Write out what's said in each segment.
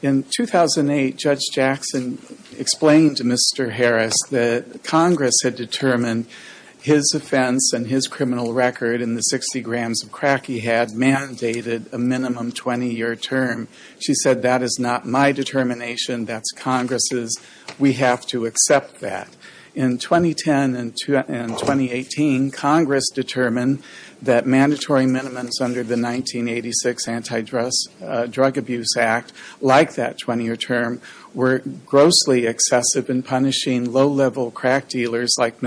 In 2008, Judge Jackson explained to Mr. Harris that Congress had determined his offense and his criminal record in the 60 grams of crack he had mandated a minimum 20-year term. She said, that is not my determination, that's Congress's. We have to accept that. In 2010 and 2018, Congress determined that mandatory minimums under the 1986 Anti-Drug Abuse Act, like that 20-year term, were grossly excessive in punishing low-level crack dealers like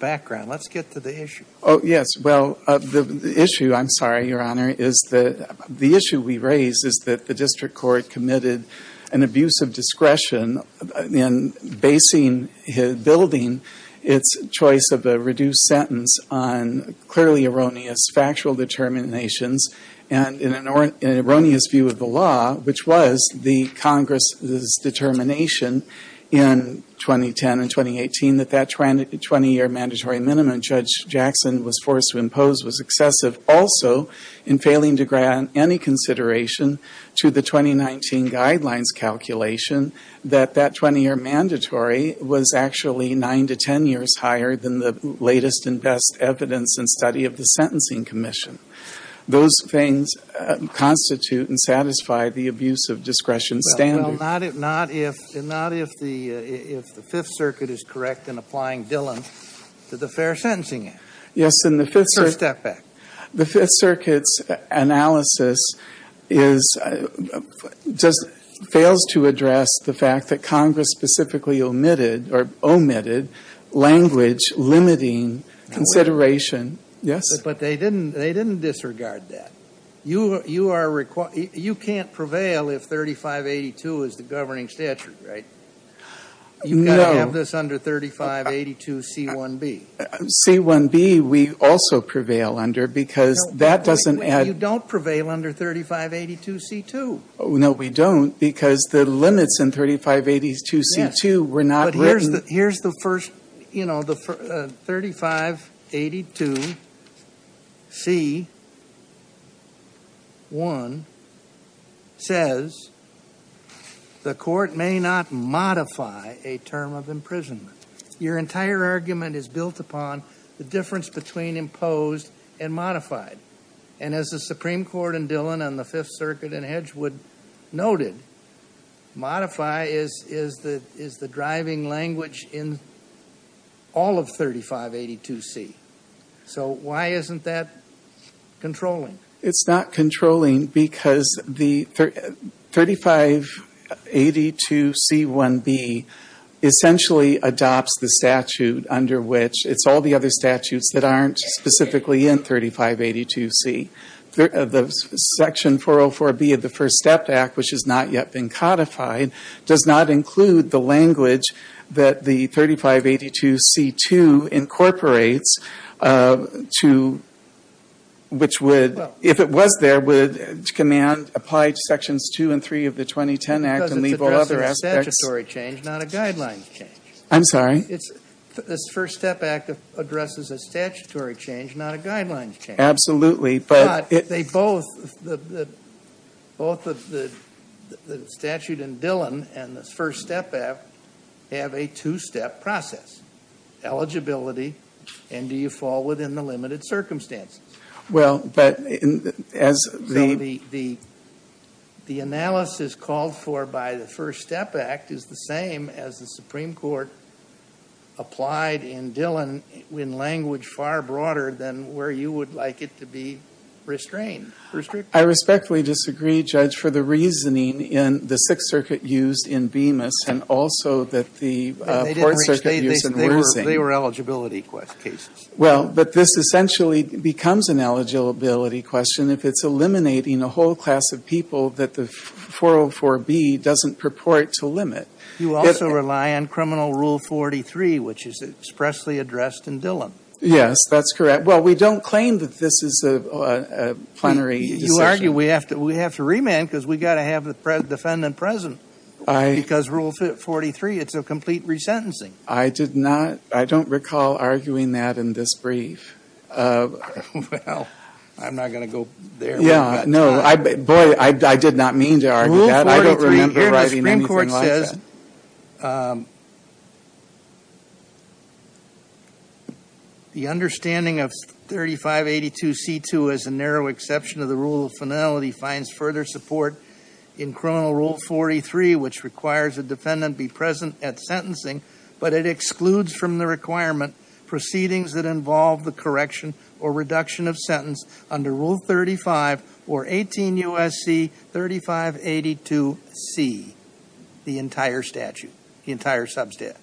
background. Let's get to the issue. Oh, yes. Well, the issue, I'm sorry, Your Honor, is that the issue we raise is that the district court committed an abuse of discretion in basing his building, its choice of a reduced sentence on clearly erroneous factual determinations and in an erroneous view of the law, which was the Congress's determination in 2010 and 2018 that that 20-year mandatory minimum Judge Jackson was forced to impose was excessive. Also, in failing to grant any consideration to the 2019 guidelines calculation, that that 20-year mandatory was actually 9 to 10 years higher than the latest and best evidence and study of the Sentencing Commission. Those things constitute and satisfy the abuse of discretion standard. Well, not if the Fifth Circuit is correct in applying Dillon to the Fair Sentencing Act. Yes, and the Fifth Circuit's analysis fails to address the fact that Congress specifically omitted language limiting consideration. Yes? But they didn't disregard that. You can't prevail if 3582 is the governing statute, right? You've got to have this under 3582C1B. C1B we also prevail under because that doesn't add... You don't prevail under 3582C2. No, we don't because the limits in 3582C2 were not written... But here's the first, you know, 3582C1 says the court may not modify a term of imprisonment. Your entire argument is built upon the difference between imposed and modified. And as the Supreme in all of 3582C. So why isn't that controlling? It's not controlling because the 3582C1B essentially adopts the statute under which it's all the other statutes that aren't specifically in 3582C. Section 404B of the First Step Act, which has not yet been codified, does not include the language that the 3582C2 incorporates to, which would, if it was there, would command, apply to Sections 2 and 3 of the 2010 Act and leave all other aspects... Because it's addressing a statutory change, not a guidelines change. I'm sorry? It's, this First Step Act addresses a statutory change, not a guidelines change. Absolutely. But they both, both the statute in Dillon and the First Step Act have a two-step process. Eligibility, and do you fall within the limited circumstances? Well, but as the... The analysis called for by the First Step Act is the same as the Supreme Court applied in Dillon in language far broader than where you would like it to be restrained, restricted. I respectfully disagree, Judge, for the reasoning in the Sixth Circuit used in Bemis and also that the Fourth Circuit used in Worzing. They were eligibility cases. Well, but this essentially becomes an eligibility question if it's eliminating a whole class of people that the 404B doesn't purport to limit. You also rely on criminal Rule 43, which is expressly addressed in Dillon. Yes, that's correct. Well, we don't claim that this is a plenary... You argue we have to remand because we've got to have the defendant present. Because Rule 43, it's a complete resentencing. I did not. I don't recall arguing that in this brief. Well, I'm not going to go there. Yeah, no. Boy, I did not mean to argue that. I don't remember arguing anything like that. Rule 43, here the Supreme Court says, the understanding of 3582C2 as a narrow exception to the rule of finality finds further support in criminal Rule 43, which requires a defendant be present at sentencing, but it excludes from the requirement proceedings that involve the correction or reduction of sentence under Rule 35 or 18 U.S.C. 3582C, the entire statute, the entire substatute.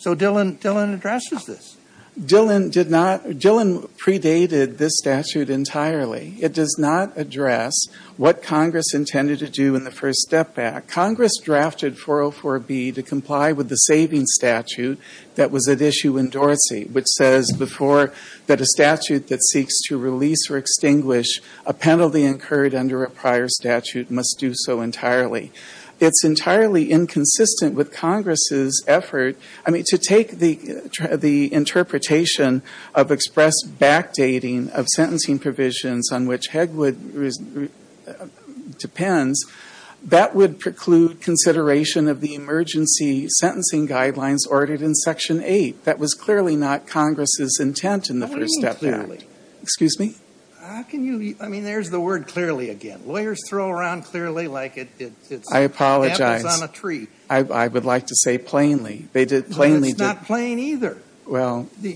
So Dillon addresses this. Dillon predated this statute entirely. It does not address what Congress intended to do in the First Step Act. Congress drafted 404B to comply with the savings statute that was at issue in Dorsey, which says before that a statute that seeks to release or extinguish a penalty incurred under a prior statute must do so entirely. It's entirely inconsistent with Congress's effort, I mean, to take the interpretation of express backdating of sentencing provisions on which Hegwood depends. That would preclude consideration of the emergency sentencing guidelines ordered in Section 8. That was clearly not Congress's intent in the First Step Act. What do you mean clearly? Excuse me? How can you? I mean, there's the word clearly again. Lawyers throw around clearly like it's on a tree. I apologize. I would like to say plainly. No, it's not plain either. Well. The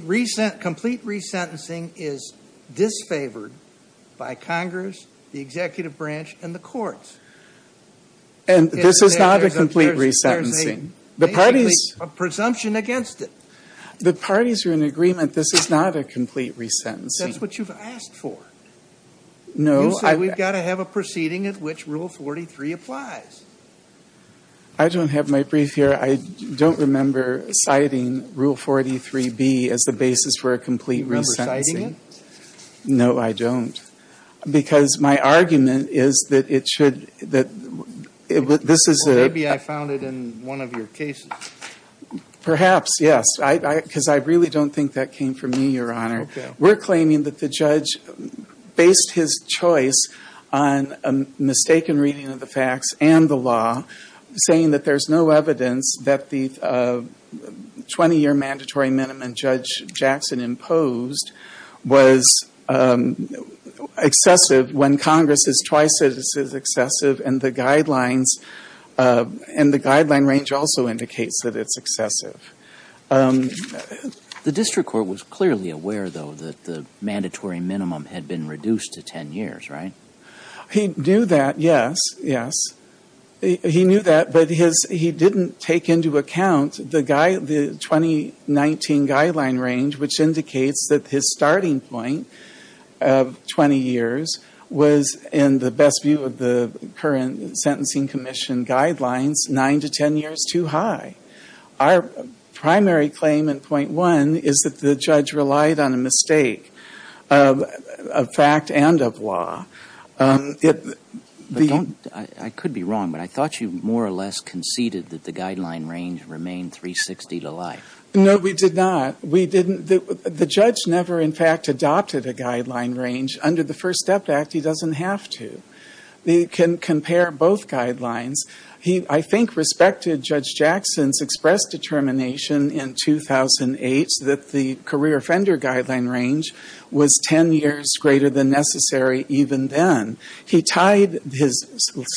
complete resentencing is disfavored by Congress, the executive branch, and the courts. And this is not a complete resentencing. Basically a presumption against it. The parties are in agreement this is not a complete resentencing. That's what you've asked for. No. You said we've got to have a proceeding at which Rule 43 applies. I don't have my brief here. I don't remember citing Rule 43B as the basis for a complete resentencing. You remember citing it? No, I don't. Because my argument is that it should, that this is a... Perhaps, yes. Because I really don't think that came from me, Your Honor. Okay. We're claiming that the judge based his choice on a mistaken reading of the facts and the law, saying that there's no evidence that the 20-year mandatory minimum Judge Jackson imposed was excessive when Congress has twice said this is excessive and the guidelines, and the guideline range also indicates that it's excessive. The district court was clearly aware, though, that the mandatory minimum had been reduced to 10 years, right? He knew that, yes, yes. He knew that, but he didn't take into account the 2019 guideline range, which indicates that his starting point of 20 years was, in the best view of the current sentencing commission guidelines, 9 to 10 years too high. Our primary claim in Point 1 is that the judge relied on a mistake of fact and of law. I could be wrong, but I thought you more or less conceded that the guideline range remained 360 to life. No, we did not. We didn't. The judge never, in fact, adopted a guideline range under the First Step Act. He doesn't have to. He can compare both guidelines. He, I think, respected Judge Jackson's express determination in 2008 that the career offender guideline range was 10 years greater than necessary even then. He tied his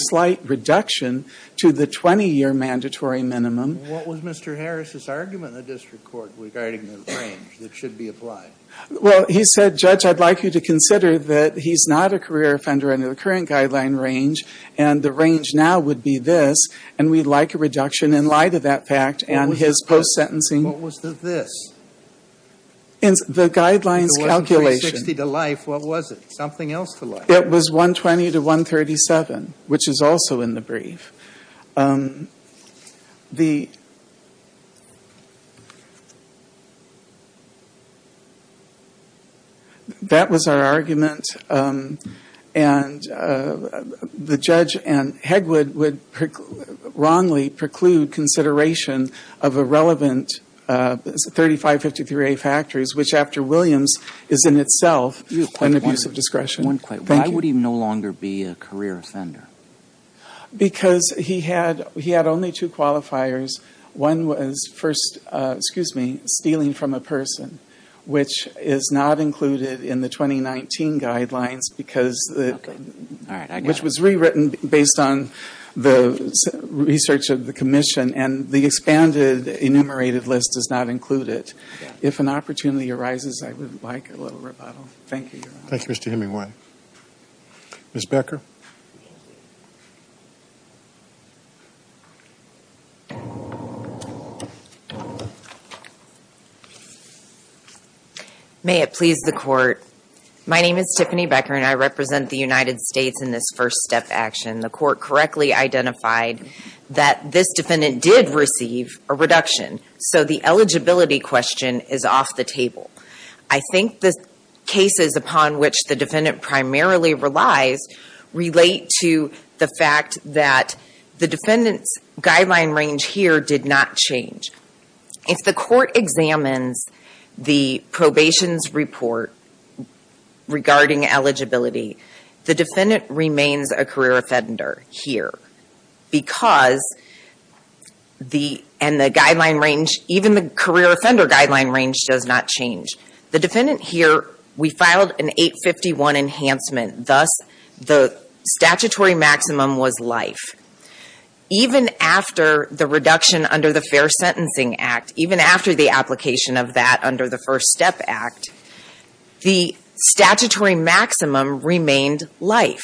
slight reduction to the 20-year mandatory minimum. What was Mr. Harris' argument in the district court regarding the range that should be applied? Well, he said, Judge, I'd like you to consider that he's not a career offender under the current guideline range, and the range now would be this, and we'd like a reduction in light of that fact. And his post-sentencing. What was the this? The guideline's calculation. It wasn't 360 to life. What was it? Something else to life. That was our argument. And the judge and Hegwood would wrongly preclude consideration of a relevant 3553A factors, which after Williams is in itself an abuse of discretion. Why would he no longer be a career offender? Because he had only two qualifiers. One was first, excuse me, stealing from a person, which is not included in the 2019 guidelines, which was rewritten based on the research of the commission, and the expanded enumerated list is not included. If an opportunity arises, I would like a little rebuttal. Thank you, Your Honor. Thank you, Mr. Hemingway. Ms. Becker. May it please the court. My name is Tiffany Becker, and I represent the United States in this first step action. The court correctly identified that this defendant did receive a reduction, so the eligibility question is off the table. I think the cases upon which the defendant primarily relies relate to the fact that the defendant's guideline range here did not change. If the court examines the probation's report regarding eligibility, the defendant remains a career offender here, because the guideline range, even the career offender guideline range, does not change. The defendant here, we filed an 851 enhancement, thus the statutory maximum was life. Even after the reduction under the Fair Sentencing Act, even after the application of that under the First Step Act, the statutory maximum remained life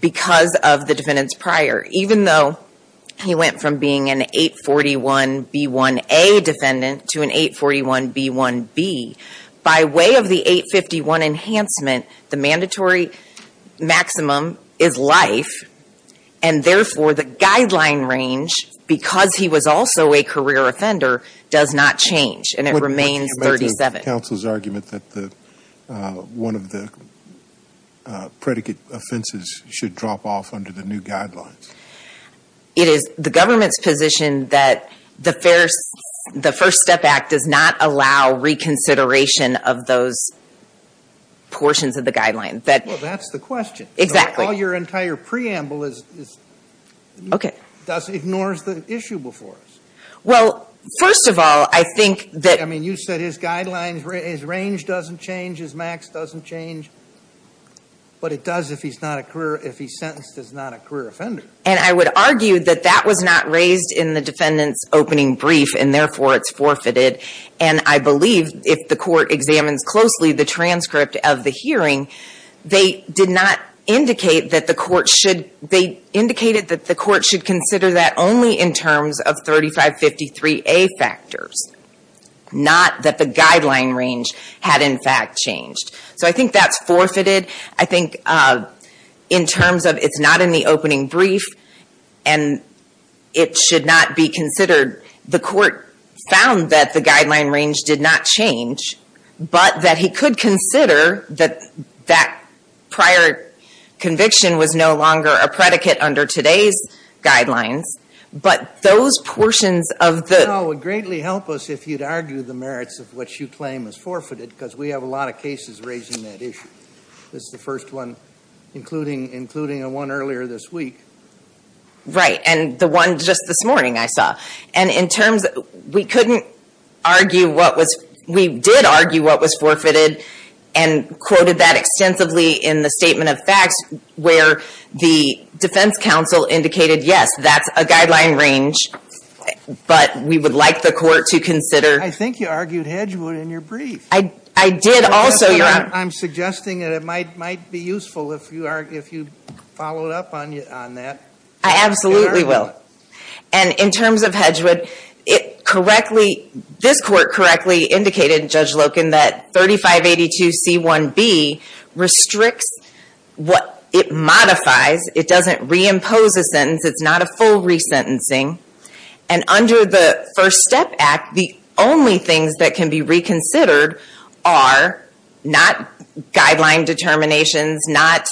because of the defendant's prior. Even though he went from being an 841B1A defendant to an 841B1B, by way of the 851 enhancement, the mandatory maximum is life, and therefore the guideline range, because he was also a career offender, does not change, and it remains 37. Scalia's argument that one of the predicate offenses should drop off under the new guidelines. It is the government's position that the First Step Act does not allow reconsideration of those portions of the guidelines. Well, that's the question. Exactly. All your entire preamble ignores the issue before us. Well, first of all, I think that I mean, you said his guidelines, his range doesn't change, his max doesn't change, but it does if he's not a career, if he's sentenced as not a career offender. And I would argue that that was not raised in the defendant's opening brief, and therefore it's forfeited. And I believe if the Court examines closely the transcript of the hearing, they did not indicate that the Court should, they indicated that the Court should consider that only in terms of 3553A factors, not that the guideline range had in fact changed. So I think that's forfeited. I think in terms of it's not in the opening brief, and it should not be considered, the Court found that the guideline range did not change, but that he could consider that that prior conviction was no longer a predicate under today's guidelines, but those portions of the Well, it would greatly help us if you'd argue the merits of what you claim is forfeited, because we have a lot of cases raising that issue. This is the first one, including the one earlier this week. Right, and the one just this morning I saw. And in terms, we couldn't argue what was, we did argue what was forfeited, and quoted that extensively in the Statement of Facts, where the defense counsel indicated, yes, that's a guideline range, but we would like the Court to consider I think you argued Hedgewood in your brief. I did also, Your Honor. I'm suggesting that it might be useful if you followed up on that. I absolutely will. And in terms of Hedgewood, it correctly, this Court correctly indicated, Judge Loken, that 3582c1b restricts what it modifies. It doesn't reimpose a sentence. It's not a full resentencing. And under the First Step Act, the only things that can be reconsidered are not guideline determinations, not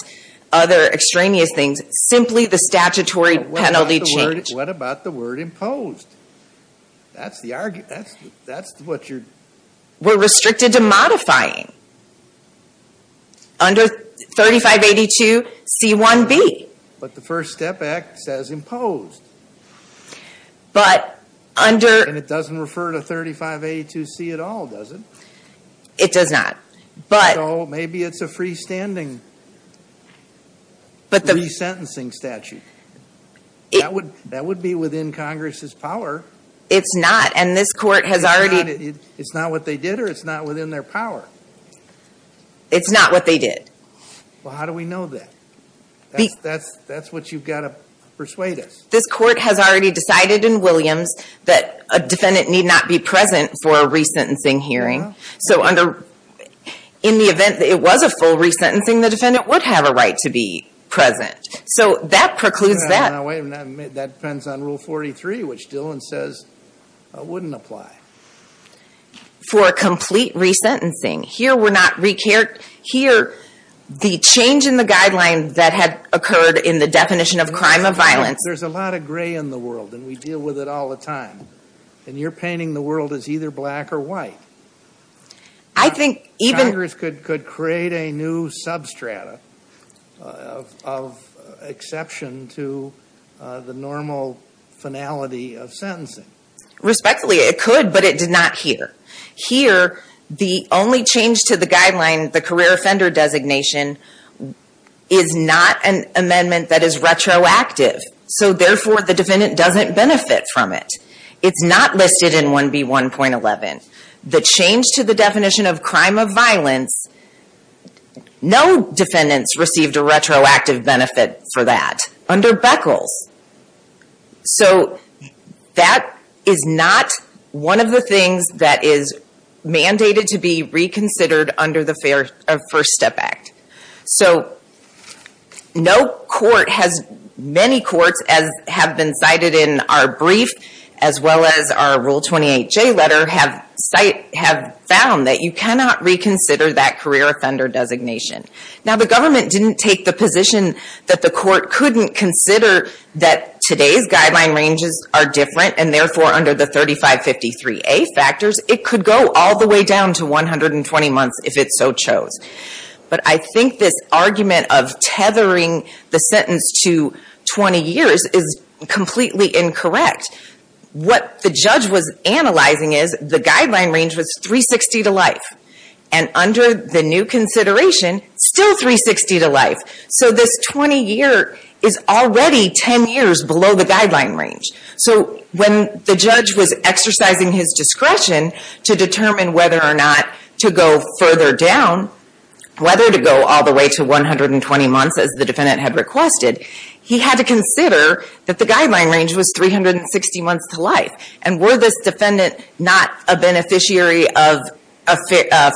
other extraneous things, but simply the statutory penalty change. What about the word imposed? That's what you're... We're restricted to modifying. Under 3582c1b. But the First Step Act says imposed. But under... And it doesn't refer to 3582c at all, does it? It does not. So maybe it's a freestanding resentencing. Resentencing statute. That would be within Congress's power. It's not. And this Court has already... It's not what they did or it's not within their power? It's not what they did. Well, how do we know that? That's what you've got to persuade us. This Court has already decided in Williams that a defendant need not be present for a resentencing hearing. So in the event that it was a full resentencing, the defendant would have a right to be present. So that precludes that. Wait a minute. That depends on Rule 43, which Dillon says wouldn't apply. For a complete resentencing. Here, we're not... Here, the change in the guideline that had occurred in the definition of crime of violence... There's a lot of gray in the world, and we deal with it all the time. And you're painting the world as either black or white. I think even... of exception to the normal finality of sentencing. Respectfully, it could, but it did not here. Here, the only change to the guideline, the career offender designation, is not an amendment that is retroactive. So therefore, the defendant doesn't benefit from it. It's not listed in 1B1.11. The change to the definition of crime of violence... No defendants received a retroactive benefit for that under Beckles. So that is not one of the things that is mandated to be reconsidered under the First Step Act. So no court has... Many courts, as have been cited in our brief, as well as our Rule 28J letter, have found that you cannot reconsider that career offender designation. Now, the government didn't take the position that the court couldn't consider that today's guideline ranges are different, and therefore, under the 3553A factors, it could go all the way down to 120 months, if it so chose. But I think this argument of tethering the sentence to 20 years is completely incorrect. What the judge was analyzing is, the guideline range was 360 to life. And under the new consideration, still 360 to life. So this 20 year is already 10 years below the guideline range. So when the judge was exercising his discretion to determine whether or not to go further down, whether to go all the way to 120 months, as the defendant had requested, he had to consider that the guideline range was 360 months to life. And were this defendant not a beneficiary of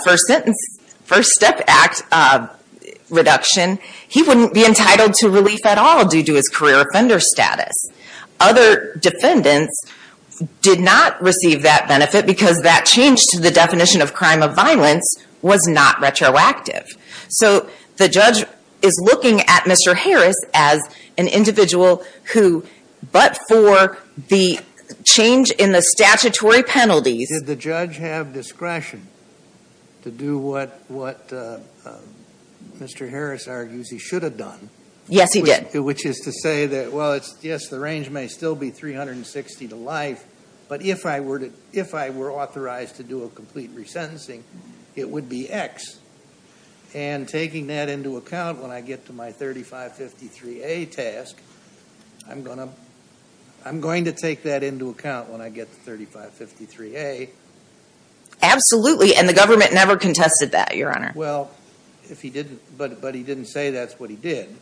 first sentence, first step act reduction, he wouldn't be entitled to relief at all due to his career offender status. Other defendants did not receive that benefit because that change to the definition of crime of violence was not retroactive. So the judge is looking at Mr. Harris as an individual who, but for the change in the statutory penalties. Did the judge have discretion to do what Mr. Harris argues he should have done? Yes, he did. Which is to say that, well, yes, the range may still be 360 to life, but if I were authorized to do a complete resentencing, it would be X. And taking that into account, when I get to my 3553A task, I'm going to take that into account when I get to 3553A. Absolutely, and the government never contested that, Your Honor. Well, but he didn't say that's what he did.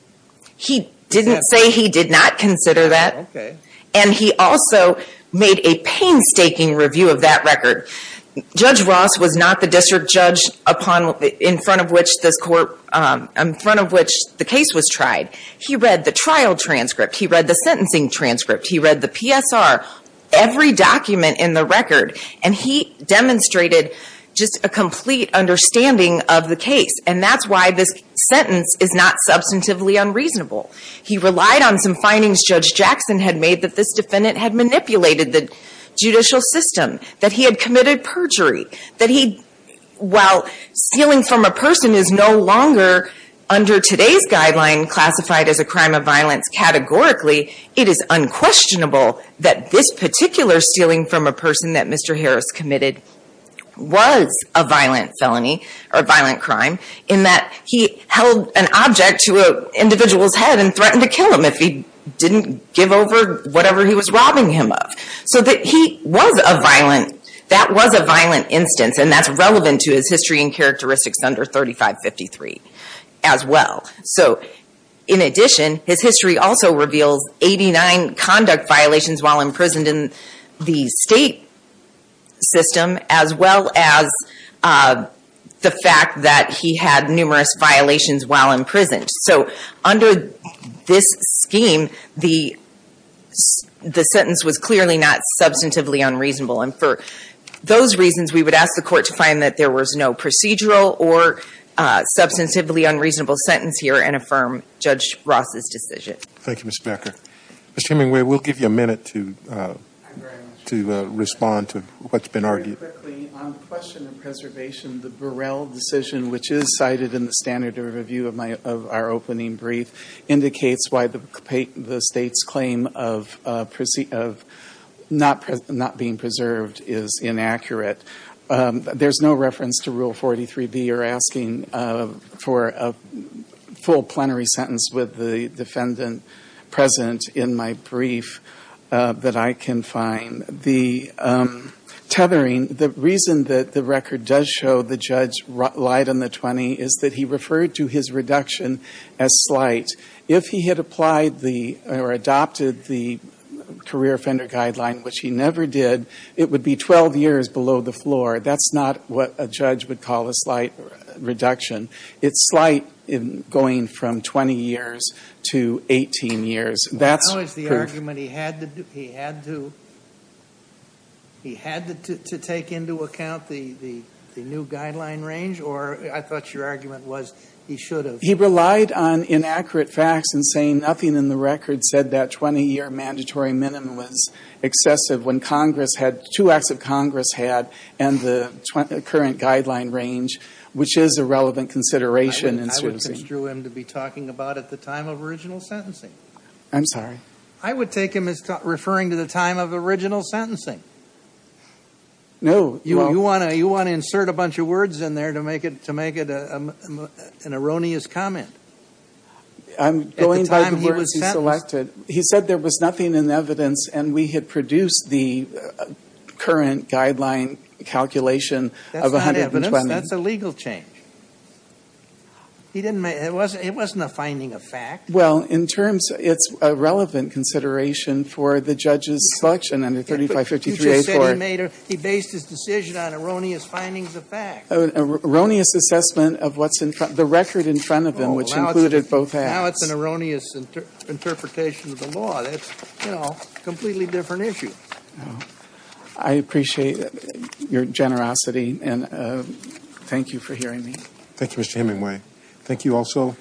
He didn't say he did not consider that. Okay. And he also made a painstaking review of that record. Judge Ross was not the district judge in front of which the case was tried. He read the trial transcript. He read the sentencing transcript. He read the PSR. Every document in the record. And he demonstrated just a complete understanding of the case. And that's why this sentence is not substantively unreasonable. He relied on some findings Judge Jackson had made that this defendant had manipulated the judicial system, that he had committed perjury, that he, while stealing from a person, is no longer, under today's guideline, classified as a crime of violence categorically, it is unquestionable that this particular stealing from a person that Mr. Harris committed was a violent felony or a violent crime in that he held an object to an individual's head and threatened to kill him if he didn't give over whatever he was robbing him of. So that he was a violent, that was a violent instance, and that's relevant to his history and characteristics under 3553 as well. So in addition, his history also reveals 89 conduct violations while imprisoned in the state system as well as the fact that he had numerous violations while imprisoned. So under this scheme, the sentence was clearly not substantively unreasonable. And for those reasons, we would ask the court to find that there was no procedural or substantively unreasonable sentence here and affirm Judge Ross's decision. Thank you, Ms. Becker. Mr. Hemingway, we'll give you a minute to respond to what's been argued. Very quickly, on the question of preservation, the Burrell decision, which is cited in the standard review of our opening brief, indicates why the state's claim of not being preserved is inaccurate. There's no reference to Rule 43B or asking for a full plenary sentence with the defendant present in my brief that I can find. The tethering, the reason that the record does show the judge lied on the 20 is that he referred to his reduction as slight. If he had applied or adopted the career offender guideline, which he never did, it would be 12 years below the floor. That's not what a judge would call a slight reduction. It's slight in going from 20 years to 18 years. That's proof. How is the argument he had to take into account the new guideline range? Or I thought your argument was he should have. He relied on inaccurate facts and saying nothing in the record said that 20-year mandatory minimum was excessive when two acts of Congress had and the current guideline range, which is a relevant consideration. I would construe him to be talking about at the time of original sentencing. I'm sorry? I would take him as referring to the time of original sentencing. No. You want to insert a bunch of words in there to make it an erroneous comment. I'm going by the words he selected. He said there was nothing in evidence and we had produced the current guideline calculation of 120. That's not evidence. That's a legal change. It wasn't a finding of fact. Well, in terms, it's a relevant consideration for the judge's selection under 3553-84. You just said he based his decision on erroneous findings of fact. An erroneous assessment of the record in front of him, which included both acts. Now it's an erroneous interpretation of the law. That's a completely different issue. I appreciate your generosity and thank you for hearing me. Thank you, Mr. Hemingway. Thank you also.